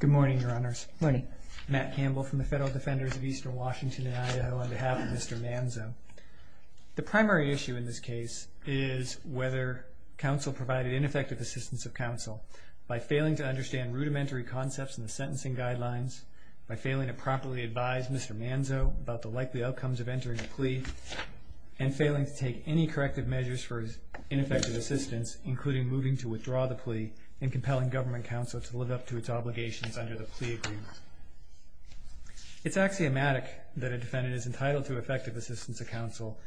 Good morning, Your Honors. Good morning. Matt Campbell from the Federal Defenders of Eastern Washington and Idaho on behalf of Mr. Manzo. The primary issue in this case is whether counsel provided ineffective assistance of counsel by failing to understand rudimentary concepts in the sentencing guidelines, by failing to properly advise Mr. Manzo about the likely outcomes of entering a plea, and failing to take any corrective measures for his ineffective assistance, including moving to withdraw the plea and compelling government counsel to live up to its obligations under the plea agreement. It's axiomatic that a defendant is entitled to effective assistance of counsel,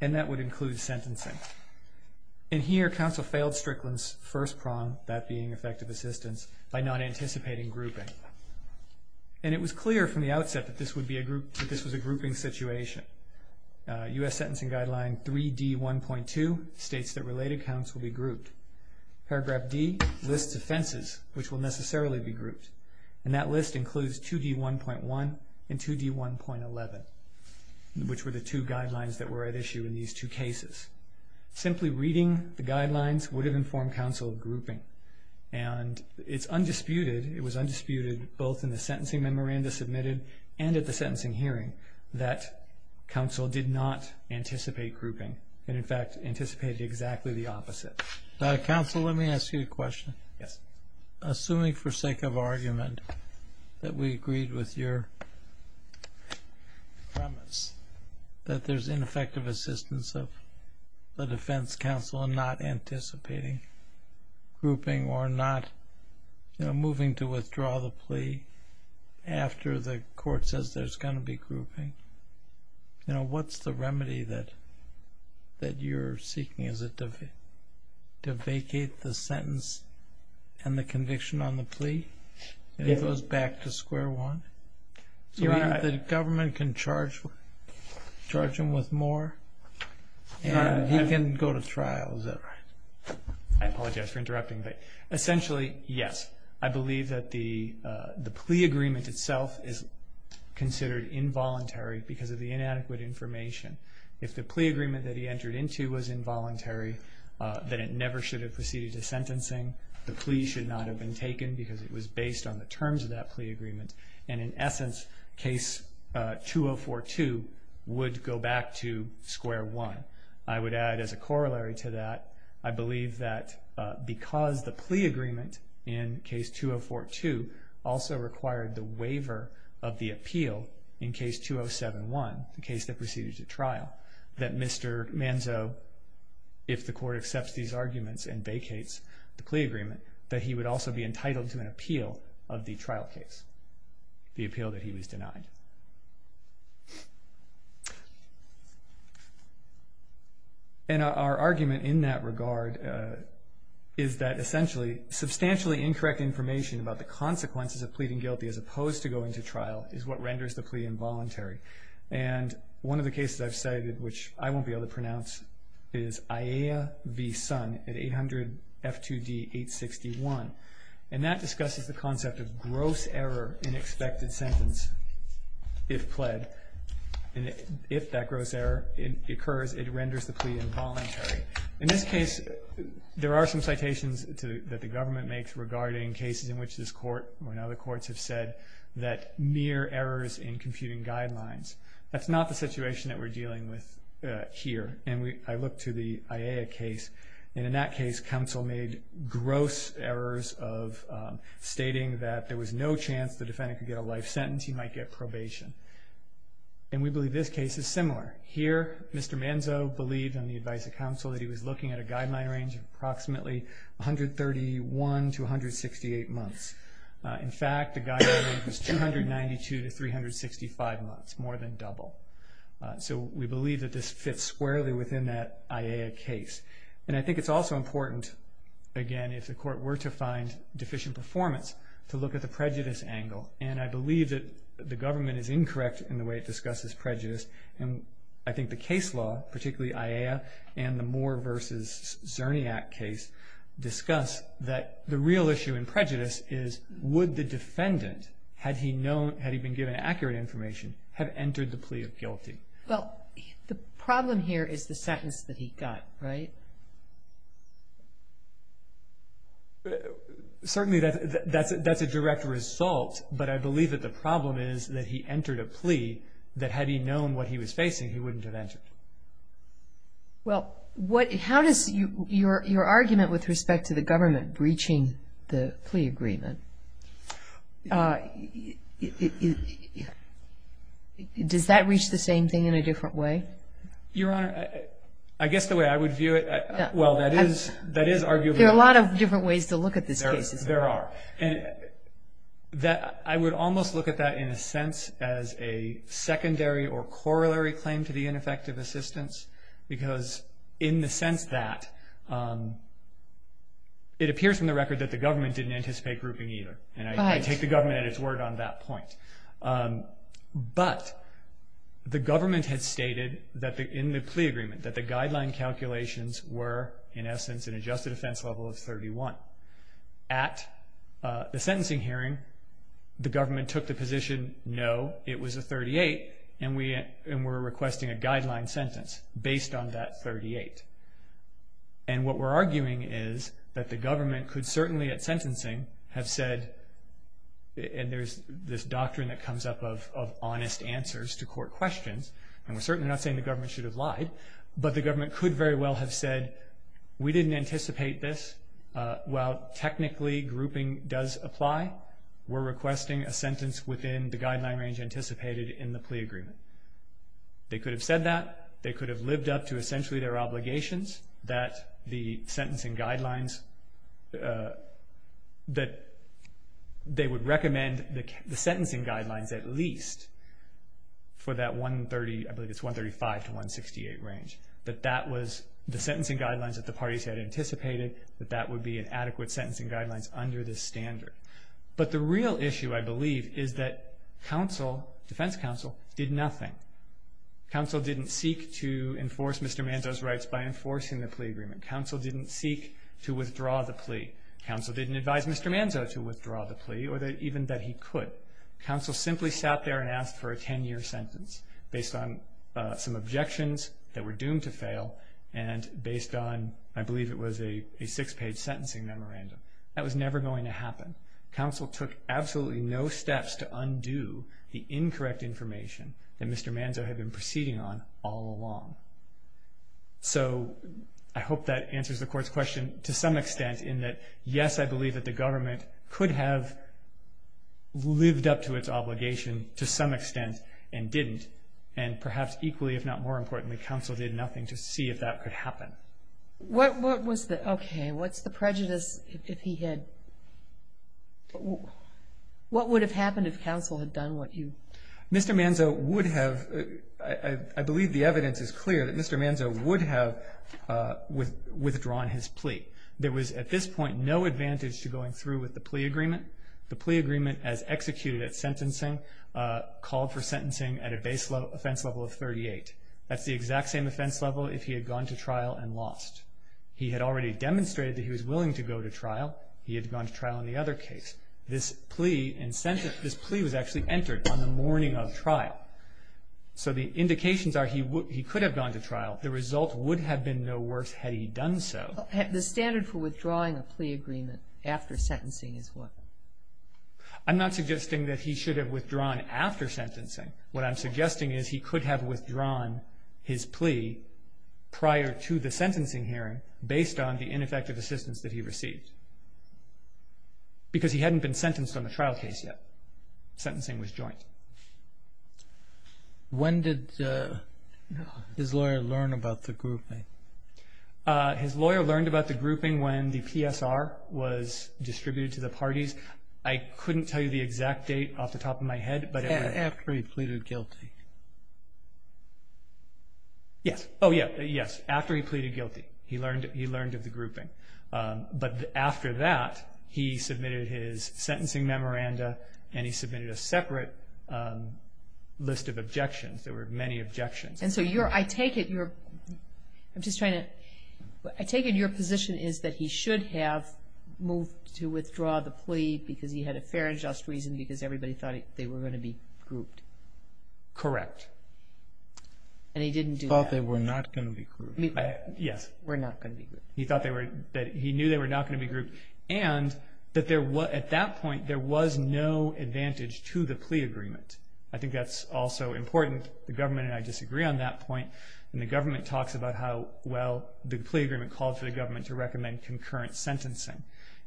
and that would include sentencing. And here counsel failed Strickland's first prong, that being effective assistance, by not anticipating grouping. And it was clear from the outset that this was a grouping situation. U.S. Sentencing Guideline 3D1.2 states that related counts will be grouped. Paragraph D lists offenses which will necessarily be grouped. And that list includes 2D1.1 and 2D1.11, which were the two guidelines that were at issue in these two cases. Simply reading the guidelines would have informed counsel grouping. And it's undisputed, it was undisputed both in the sentencing memoranda submitted and at the sentencing hearing, that counsel did not anticipate grouping, and in fact anticipated exactly the opposite. Counsel, let me ask you a question. Yes. Assuming for sake of argument that we agreed with your premise that there's ineffective assistance of the defense counsel in not anticipating grouping or not moving to withdraw the plea after the court says there's going to be grouping, what's the remedy that you're seeking? Is it to vacate the sentence and the conviction on the plea? And it goes back to square one? The government can charge him with more and he can go to trial, is that right? I apologize for interrupting, but essentially, yes. I believe that the plea agreement itself is considered involuntary because of the inadequate information. If the plea agreement that he entered into was involuntary, then it never should have proceeded to sentencing. The plea should not have been taken because it was based on the terms of that plea agreement. And in essence, case 2042 would go back to square one. I would add as a corollary to that, I believe that because the plea agreement in case 2042 also required the waiver of the appeal in case 2071, the case that proceeded to trial, that Mr. Manzo, if the court accepts these arguments and vacates the plea agreement, that he would also be entitled to an appeal of the trial case, the appeal that he was denied. And our argument in that regard is that essentially substantially incorrect information about the consequences of pleading guilty as opposed to going to trial is what renders the plea involuntary. And one of the cases I've cited which I won't be able to pronounce is Aiea v. Sun at 800 F2D 861. And that discusses the concept of gross error in expected sentence if pled. And if that gross error occurs, it renders the plea involuntary. In this case, there are some citations that the government makes regarding cases in which this court and other courts have said that mere errors in computing guidelines. That's not the situation that we're dealing with here. And I look to the Aiea case, and in that case, counsel made gross errors of stating that there was no chance the defendant could get a life sentence. He might get probation. And we believe this case is similar. Here, Mr. Manzo believed in the advice of counsel that he was looking at a guideline range of approximately 131 to 168 months. In fact, the guideline range was 292 to 365 months, more than double. So we believe that this fits squarely within that Aiea case. And I think it's also important, again, if the court were to find deficient performance, to look at the prejudice angle. And I believe that the government is incorrect in the way it discusses prejudice. And I think the case law, particularly Aiea and the Moore v. Zerniak case, discuss that the real issue in prejudice is would the defendant, had he been given accurate information, have entered the plea of guilty? Well, the problem here is the sentence that he got, right? Certainly that's a direct result, but I believe that the problem is that he entered a plea that had he known what he was facing, he wouldn't have entered. Well, how does your argument with respect to the government breaching the plea agreement, does that reach the same thing in a different way? Your Honor, I guess the way I would view it, well, that is arguable. There are a lot of different ways to look at this case. There are. I would almost look at that in a sense as a secondary or corollary claim to the ineffective assistance, because in the sense that it appears from the record that the government didn't anticipate grouping either. And I take the government at its word on that point. But the government had stated in the plea agreement that the guideline calculations were, in essence, an adjusted offense level of 31. At the sentencing hearing, the government took the position, no, it was a 38, and we're requesting a guideline sentence based on that 38. And what we're arguing is that the government could certainly at sentencing have said, and there's this doctrine that comes up of honest answers to court questions, and we're certainly not saying the government should have lied, but the government could very well have said, we didn't anticipate this. While technically grouping does apply, we're requesting a sentence within the guideline range anticipated in the plea agreement. They could have said that. They could have lived up to essentially their obligations that the sentencing guidelines, that they would recommend the sentencing guidelines at least for that 130, I believe it's 135 to 168 range, that that was the sentencing guidelines that the parties had anticipated, that that would be an adequate sentencing guidelines under this standard. But the real issue, I believe, is that counsel, defense counsel, did nothing. Counsel didn't seek to enforce Mr. Manzo's rights by enforcing the plea agreement. Counsel didn't seek to withdraw the plea. Counsel didn't advise Mr. Manzo to withdraw the plea or even that he could. Counsel simply sat there and asked for a 10-year sentence based on some objections that were doomed to fail and based on, I believe it was a six-page sentencing memorandum. That was never going to happen. Counsel took absolutely no steps to undo the incorrect information that Mr. Manzo had been proceeding on all along. So I hope that answers the Court's question to some extent in that, yes, I believe that the government could have lived up to its obligation to some extent and didn't. And perhaps equally, if not more importantly, counsel did nothing to see if that could happen. What was the, okay, what's the prejudice if he had, what would have happened if counsel had done what you. Mr. Manzo would have, I believe the evidence is clear that Mr. Manzo would have withdrawn his plea. There was at this point no advantage to going through with the plea agreement. The plea agreement as executed at sentencing called for sentencing at a base offense level of 38. That's the exact same offense level if he had gone to trial and lost. He had already demonstrated that he was willing to go to trial. He had gone to trial in the other case. This plea and sentence, this plea was actually entered on the morning of trial. So the indications are he could have gone to trial. The result would have been no worse had he done so. The standard for withdrawing a plea agreement after sentencing is what? I'm not suggesting that he should have withdrawn after sentencing. What I'm suggesting is he could have withdrawn his plea prior to the sentencing hearing based on the ineffective assistance that he received. Because he hadn't been sentenced on the trial case yet. Sentencing was joint. When did his lawyer learn about the grouping? His lawyer learned about the grouping when the PSR was distributed to the parties. I couldn't tell you the exact date off the top of my head. After he pleaded guilty. Yes. Oh, yes. After he pleaded guilty he learned of the grouping. But after that he submitted his sentencing memoranda and he submitted a separate list of objections. There were many objections. And so I take it your position is that he should have moved to withdraw the plea because he had a fair and just reason because everybody thought they were going to be grouped. Correct. And he didn't do that. He thought they were not going to be grouped. Yes. He thought they were not going to be grouped. He knew they were not going to be grouped. And at that point there was no advantage to the plea agreement. I think that's also important. The government and I disagree on that point. And the government talks about how well the plea agreement called for the government to recommend concurrent sentencing.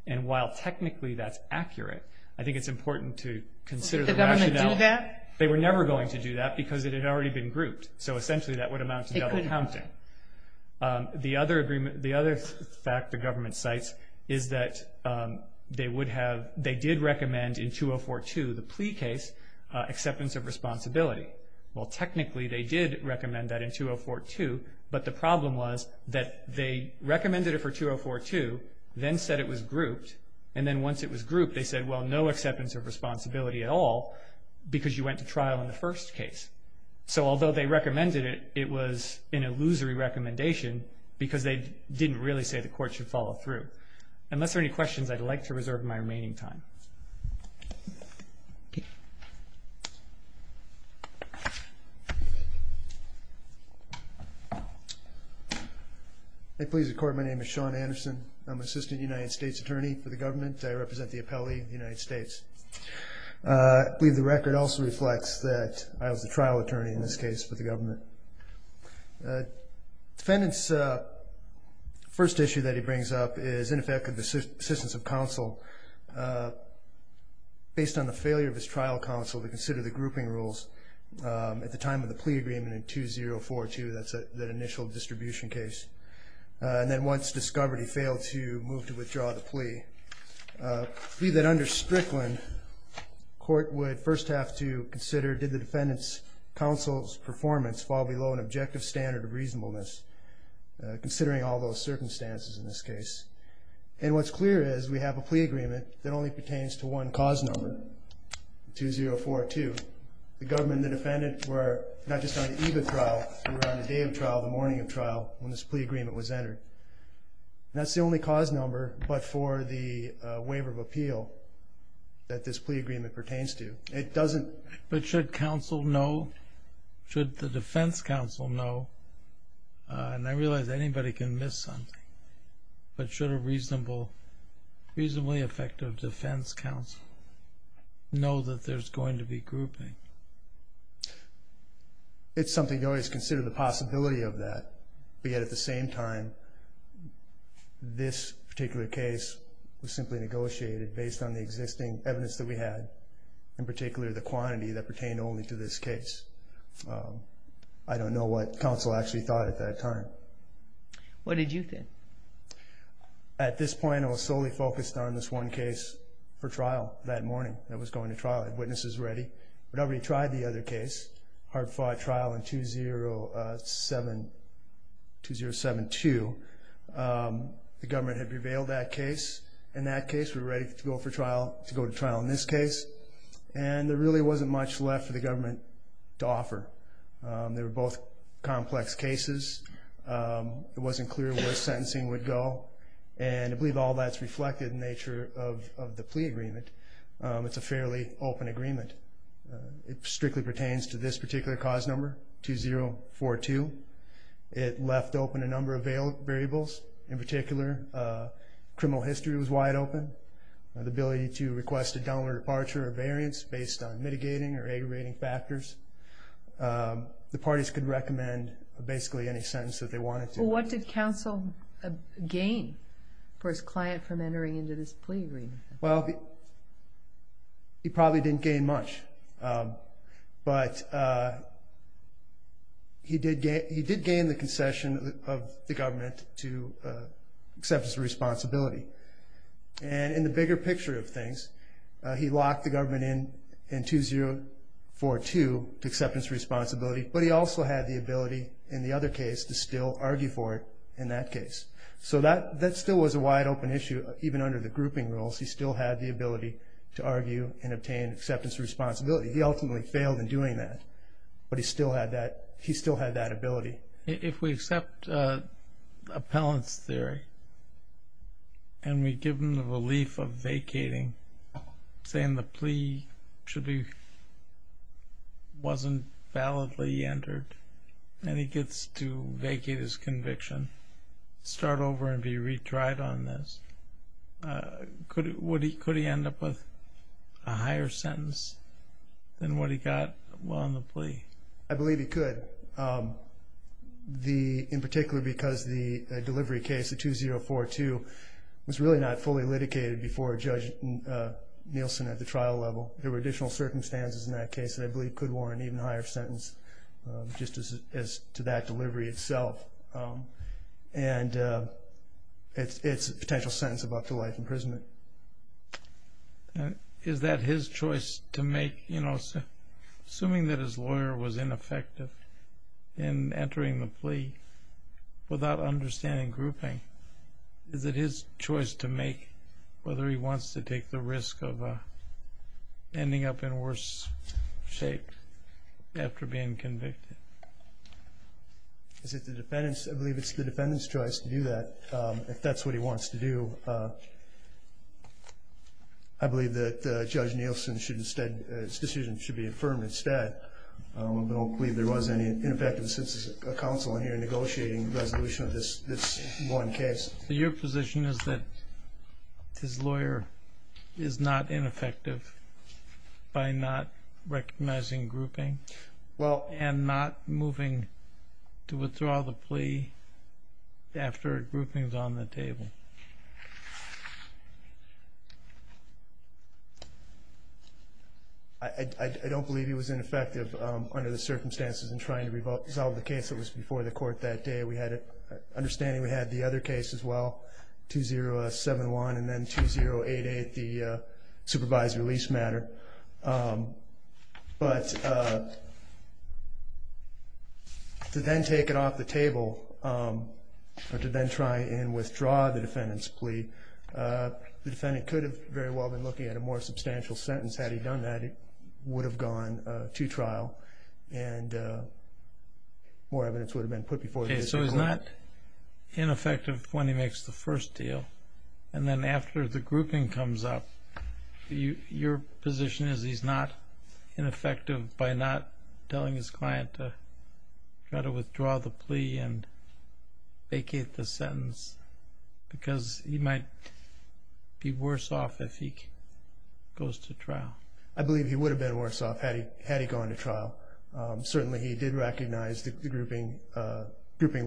And while technically that's accurate, I think it's important to consider the rationale. Would the government do that? They were never going to do that because it had already been grouped. So essentially that would amount to double counting. The other fact the government cites is that they did recommend in 2042, the plea case, acceptance of responsibility. Well, technically they did recommend that in 2042, but the problem was that they recommended it for 2042, then said it was grouped, and then once it was grouped they said, well, no acceptance of responsibility at all because you went to trial in the first case. So although they recommended it, it was an illusory recommendation because they didn't really say the court should follow through. Unless there are any questions, I'd like to reserve my remaining time. I plead the court my name is Sean Anderson. I'm Assistant United States Attorney for the government. I represent the appellee of the United States. I believe the record also reflects that I was the trial attorney in this case for the government. Defendant's first issue that he brings up is, in effect, assistance of counsel based on the failure of his trial counsel to consider the grouping rules at the time of the plea agreement in 2042. That's that initial distribution case. I plead that under Strickland, court would first have to consider did the defendant's counsel's performance fall below an objective standard of reasonableness, considering all those circumstances in this case. And what's clear is we have a plea agreement that only pertains to one cause number, 2042. The government and the defendant were not just on the eve of trial, they were on the day of trial, the morning of trial, when this plea agreement was entered. That's the only cause number but for the waiver of appeal that this plea agreement pertains to. It doesn't... But should counsel know, should the defense counsel know, and I realize anybody can miss something, but should a reasonably effective defense counsel know that there's going to be grouping? It's something to always consider the possibility of that, but yet at the same time, this particular case was simply negotiated based on the existing evidence that we had, in particular the quantity that pertained only to this case. I don't know what counsel actually thought at that time. What did you think? At this point, I was solely focused on this one case for trial that morning, that was going to trial. I had witnesses ready. We'd already tried the other case, hard-fought trial in 2007-2. The government had prevailed that case. In that case, we were ready to go to trial. To go to trial in this case, and there really wasn't much left for the government to offer. They were both complex cases. It wasn't clear where sentencing would go, and I believe all that's reflected in the nature of the plea agreement. It's a fairly open agreement. It strictly pertains to this particular cause number, 2042. It left open a number of variables. In particular, criminal history was wide open. The ability to request a downward departure or variance based on mitigating or aggravating factors. The parties could recommend basically any sentence that they wanted to. What did counsel gain for his client from entering into this plea agreement? Well, he probably didn't gain much, but he did gain the concession of the government to acceptance of responsibility. In the bigger picture of things, he locked the government in in 2042 to acceptance of responsibility, but he also had the ability in the other case to still argue for it in that case. That still was a wide open issue, even under the grouping rules. He still had the ability to argue and obtain acceptance of responsibility. He ultimately failed in doing that, but he still had that ability. If we accept appellant's theory, and we give him the relief of vacating, saying the plea wasn't validly entered, and he gets to vacate his conviction, start over and be retried on this, could he end up with a higher sentence than what he got while on the plea? I believe he could. In particular because the delivery case, the 2042, was really not fully litigated before Judge Nielsen at the trial level. There were additional circumstances in that case that I believe could warrant an even higher sentence just as to that delivery itself. And it's a potential sentence of up to life imprisonment. Is that his choice to make? Assuming that his lawyer was ineffective in entering the plea without understanding grouping, is it his choice to make whether he wants to take the risk of ending up in worse shape after being convicted? I believe it's the defendant's choice to do that, if that's what he wants to do. I believe that Judge Nielsen's decision should be affirmed instead. I don't believe there was any ineffectiveness since a counsel in here negotiating the resolution of this one case. So your position is that his lawyer is not ineffective by not recognizing grouping? And not moving to withdraw the plea after grouping is on the table? I don't believe he was ineffective under the circumstances in trying to resolve the case that was before the court that day. Understanding we had the other case as well, 2071 and then 2088, the supervised release matter. But to then take it off the table or to then try and withdraw the defendant's plea, the defendant could have very well been looking at a more substantial sentence. Had he done that, it would have gone to trial and more evidence would have been put before the district court. Okay, so he's not ineffective when he makes the first deal and then after the grouping comes up, your position is he's not ineffective by not telling his client to try to withdraw the plea and vacate the sentence because he might be worse off if he goes to trial? I believe he would have been worse off had he gone to trial. Certainly he did recognize that the grouping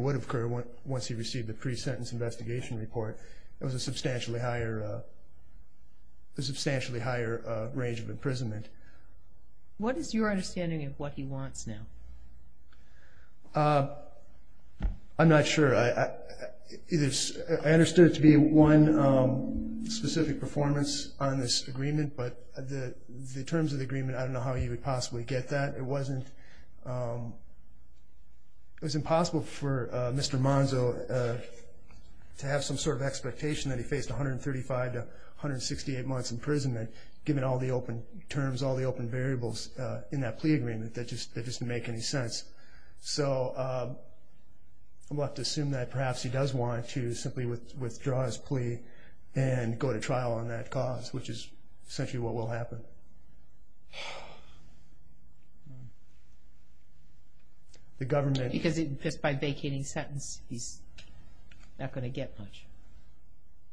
would occur once he received the pre-sentence investigation report. It was a substantially higher range of imprisonment. What is your understanding of what he wants now? I'm not sure. I understood it to be one specific performance on this agreement, but the terms of the agreement, I don't know how he would possibly get that. It was impossible for Mr. Monzo to have some sort of expectation that he faced 135 to 168 months in prison given all the open terms, all the open variables in that plea agreement that just didn't make any sense. We'll have to assume that perhaps he does want to simply withdraw his plea and go to trial on that cause, which is essentially what will happen. But... The government... Because just by vacating the sentence, he's not going to get much.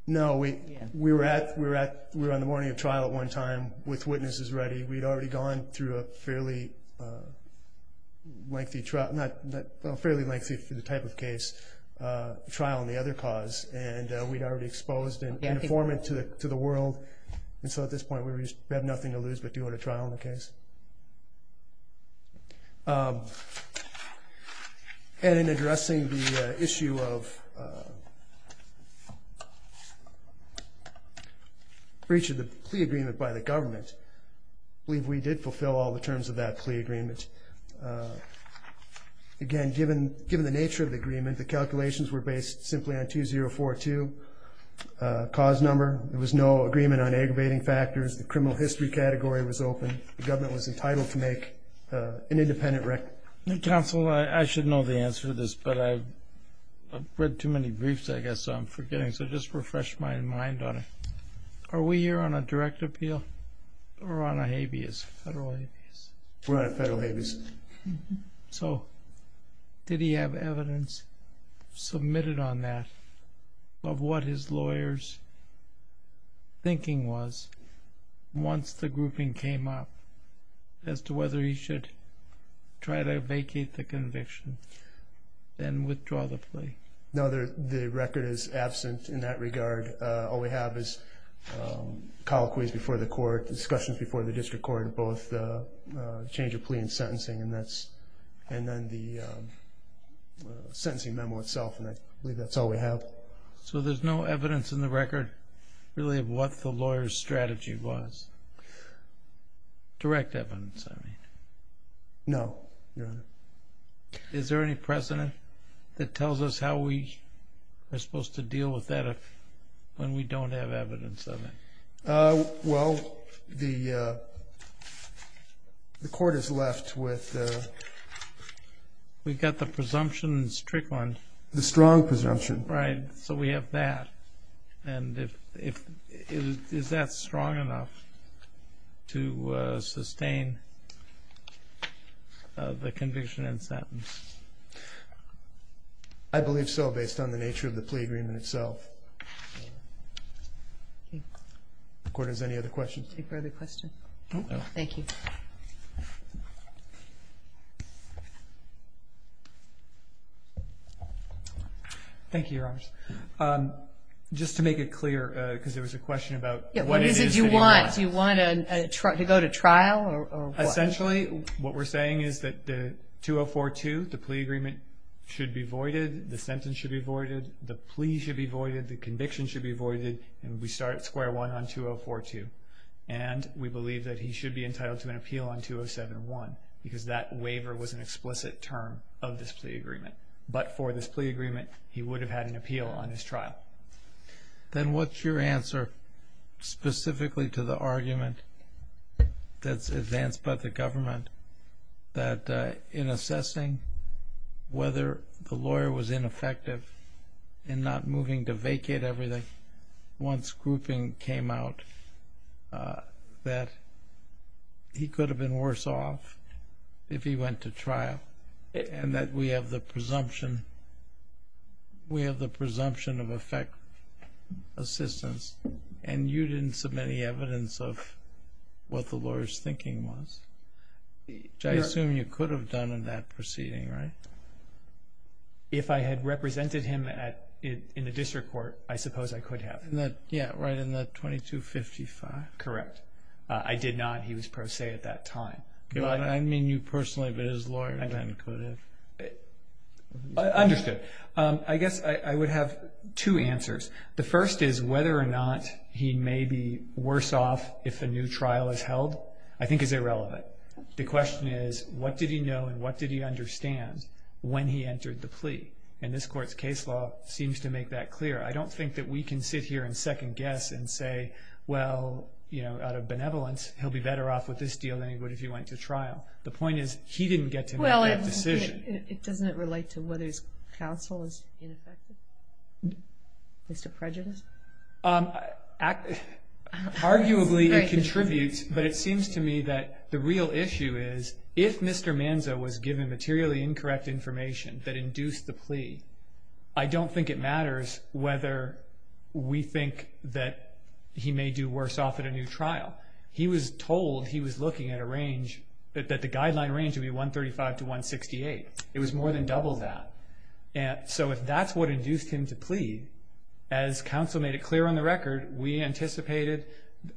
No, we were on the morning of trial at one time with witnesses ready. We'd already gone through a fairly lengthy trial, well, fairly lengthy for the type of case, trial on the other cause, and we'd already exposed an informant to the world, and so at this point we had nothing to lose but to go to trial on the case. And in addressing the issue of... breach of the plea agreement by the government, I believe we did fulfill all the terms of that plea agreement. Again, given the nature of the agreement, the calculations were based simply on 2042 cause number. There was no agreement on aggravating factors. The criminal history category was open. The government was entitled to make an independent... Counsel, I should know the answer to this, but I've read too many briefs, I guess, so I'm forgetting. So just refresh my mind on it. Are we here on a direct appeal or on a habeas, federal habeas? We're on a federal habeas. So did he have evidence submitted on that of what his lawyer's thinking was once the grouping came up as to whether he should try to vacate the conviction and withdraw the plea? No, the record is absent in that regard. All we have is colloquies before the court, discussions before the district court of both the change of plea and sentencing, and then the sentencing memo itself, and I believe that's all we have. So there's no evidence in the record really of what the lawyer's strategy was? Direct evidence, I mean. No, Your Honor. Is there any precedent that tells us how we are supposed to deal with that when we don't have evidence of it? Well, the court has left with... We've got the presumptions trickling. The strong presumption. Right. So we have that. And is that strong enough to sustain the conviction and sentence? I believe so, based on the nature of the plea agreement itself. Okay. If the Court has any other questions. No further questions. Thank you. Thank you, Your Honor. Just to make it clear, because there was a question about... What is it you want? Do you want to go to trial? Essentially, what we're saying is that the 2042, the plea agreement should be voided, the sentence should be voided, the plea should be voided, the conviction should be voided, and we start at square one on 2042. And we believe that he should be entitled to an appeal on 2071, because that waiver was an explicit term of this plea agreement. But for this plea agreement, he would have had an appeal on his trial. Then what's your answer specifically to the argument that's advanced by the government that in assessing whether the lawyer was ineffective in not moving to vacate everything, once grouping came out, that he could have been worse off if he went to trial, and that we have the presumption of effect assistance, and you didn't submit any evidence of what the lawyer's thinking was, which I assume you could have done in that proceeding, right? If I had represented him in the district court, I suppose I could have. Yeah, right in the 2255. Correct. I did not. He was pro se at that time. I mean you personally, but his lawyer could have. Understood. I guess I would have two answers. The first is whether or not he may be worse off if a new trial is held, I think is irrelevant. The question is what did he know and what did he understand when he entered the plea? And this court's case law seems to make that clear. I don't think that we can sit here and second guess and say, well, out of benevolence, he'll be better off with this deal than he would if he went to trial. The point is he didn't get to make that decision. Well, doesn't it relate to whether his counsel is ineffective? Mr. Prejudice? Arguably it contributes, but it seems to me that the real issue is if Mr. Manzo was given materially incorrect information that induced the plea, I don't think it matters whether we think that he may do worse off at a new trial. He was told he was looking at a range, that the guideline range would be 135 to 168. It was more than double that. So if that's what induced him to plead, as counsel made it clear on the record, we anticipated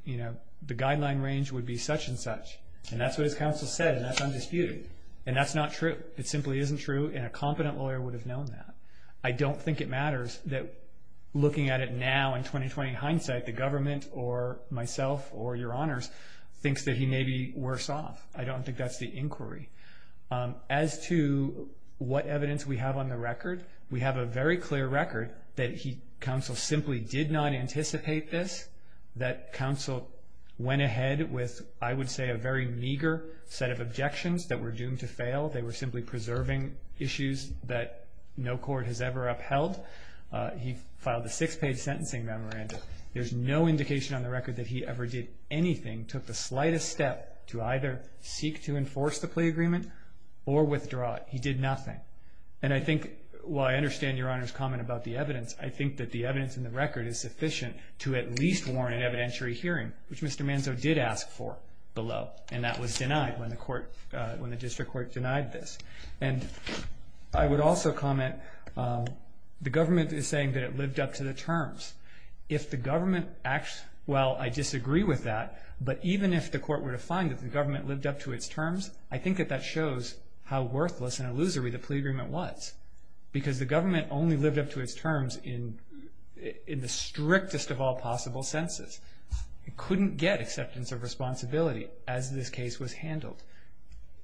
the guideline range would be such and such. And that's what his counsel said, and that's undisputed. And that's not true. It simply isn't true, and a competent lawyer would have known that. I don't think it matters that looking at it now in 20-20 hindsight, the government or myself or your honors thinks that he may be worse off. I don't think that's the inquiry. As to what evidence we have on the record, we have a very clear record that counsel simply did not anticipate this, that counsel went ahead with, I would say, a very meager set of objections that were doomed to fail. They were simply preserving issues that no court has ever upheld. He filed a six-page sentencing memorandum. There's no indication on the record that he ever did anything, took the slightest step to either seek to enforce the plea agreement or withdraw it. He did nothing. And I think, while I understand your honors' comment about the evidence, I think that the evidence in the record is sufficient to at least warrant an evidentiary hearing, which Mr. Manzo did ask for below. And that was denied when the court, when the district court denied this. And I would also comment, the government is saying that it lived up to the terms. If the government, well, I disagree with that, but even if the court were to find that the government lived up to its terms, I think that that shows how worthless and illusory the plea agreement was because the government only lived up to its terms in the strictest of all possible senses. It couldn't get acceptance of responsibility as this case was handled.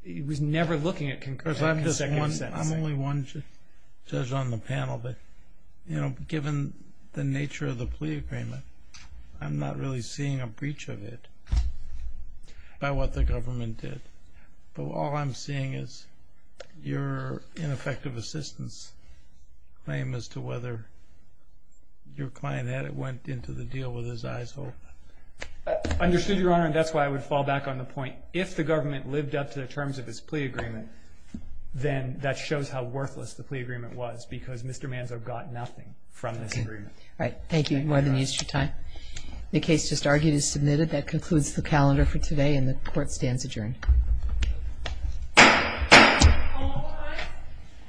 It was never looking at concurrence or consecutive sentencing. I'm only one judge on the panel, but given the nature of the plea agreement, I'm not really seeing a breach of it by what the government did. But all I'm seeing is your ineffective assistance claim as to whether your client went into the deal with his eyes open. Understood, Your Honor, and that's why I would fall back on the point. If the government lived up to the terms of its plea agreement, then that shows how worthless the plea agreement was because Mr. Manzo got nothing from this agreement. All right. Thank you. You've more than used your time. The case just argued is submitted. That concludes the calendar for today, and the court stands adjourned. All rise.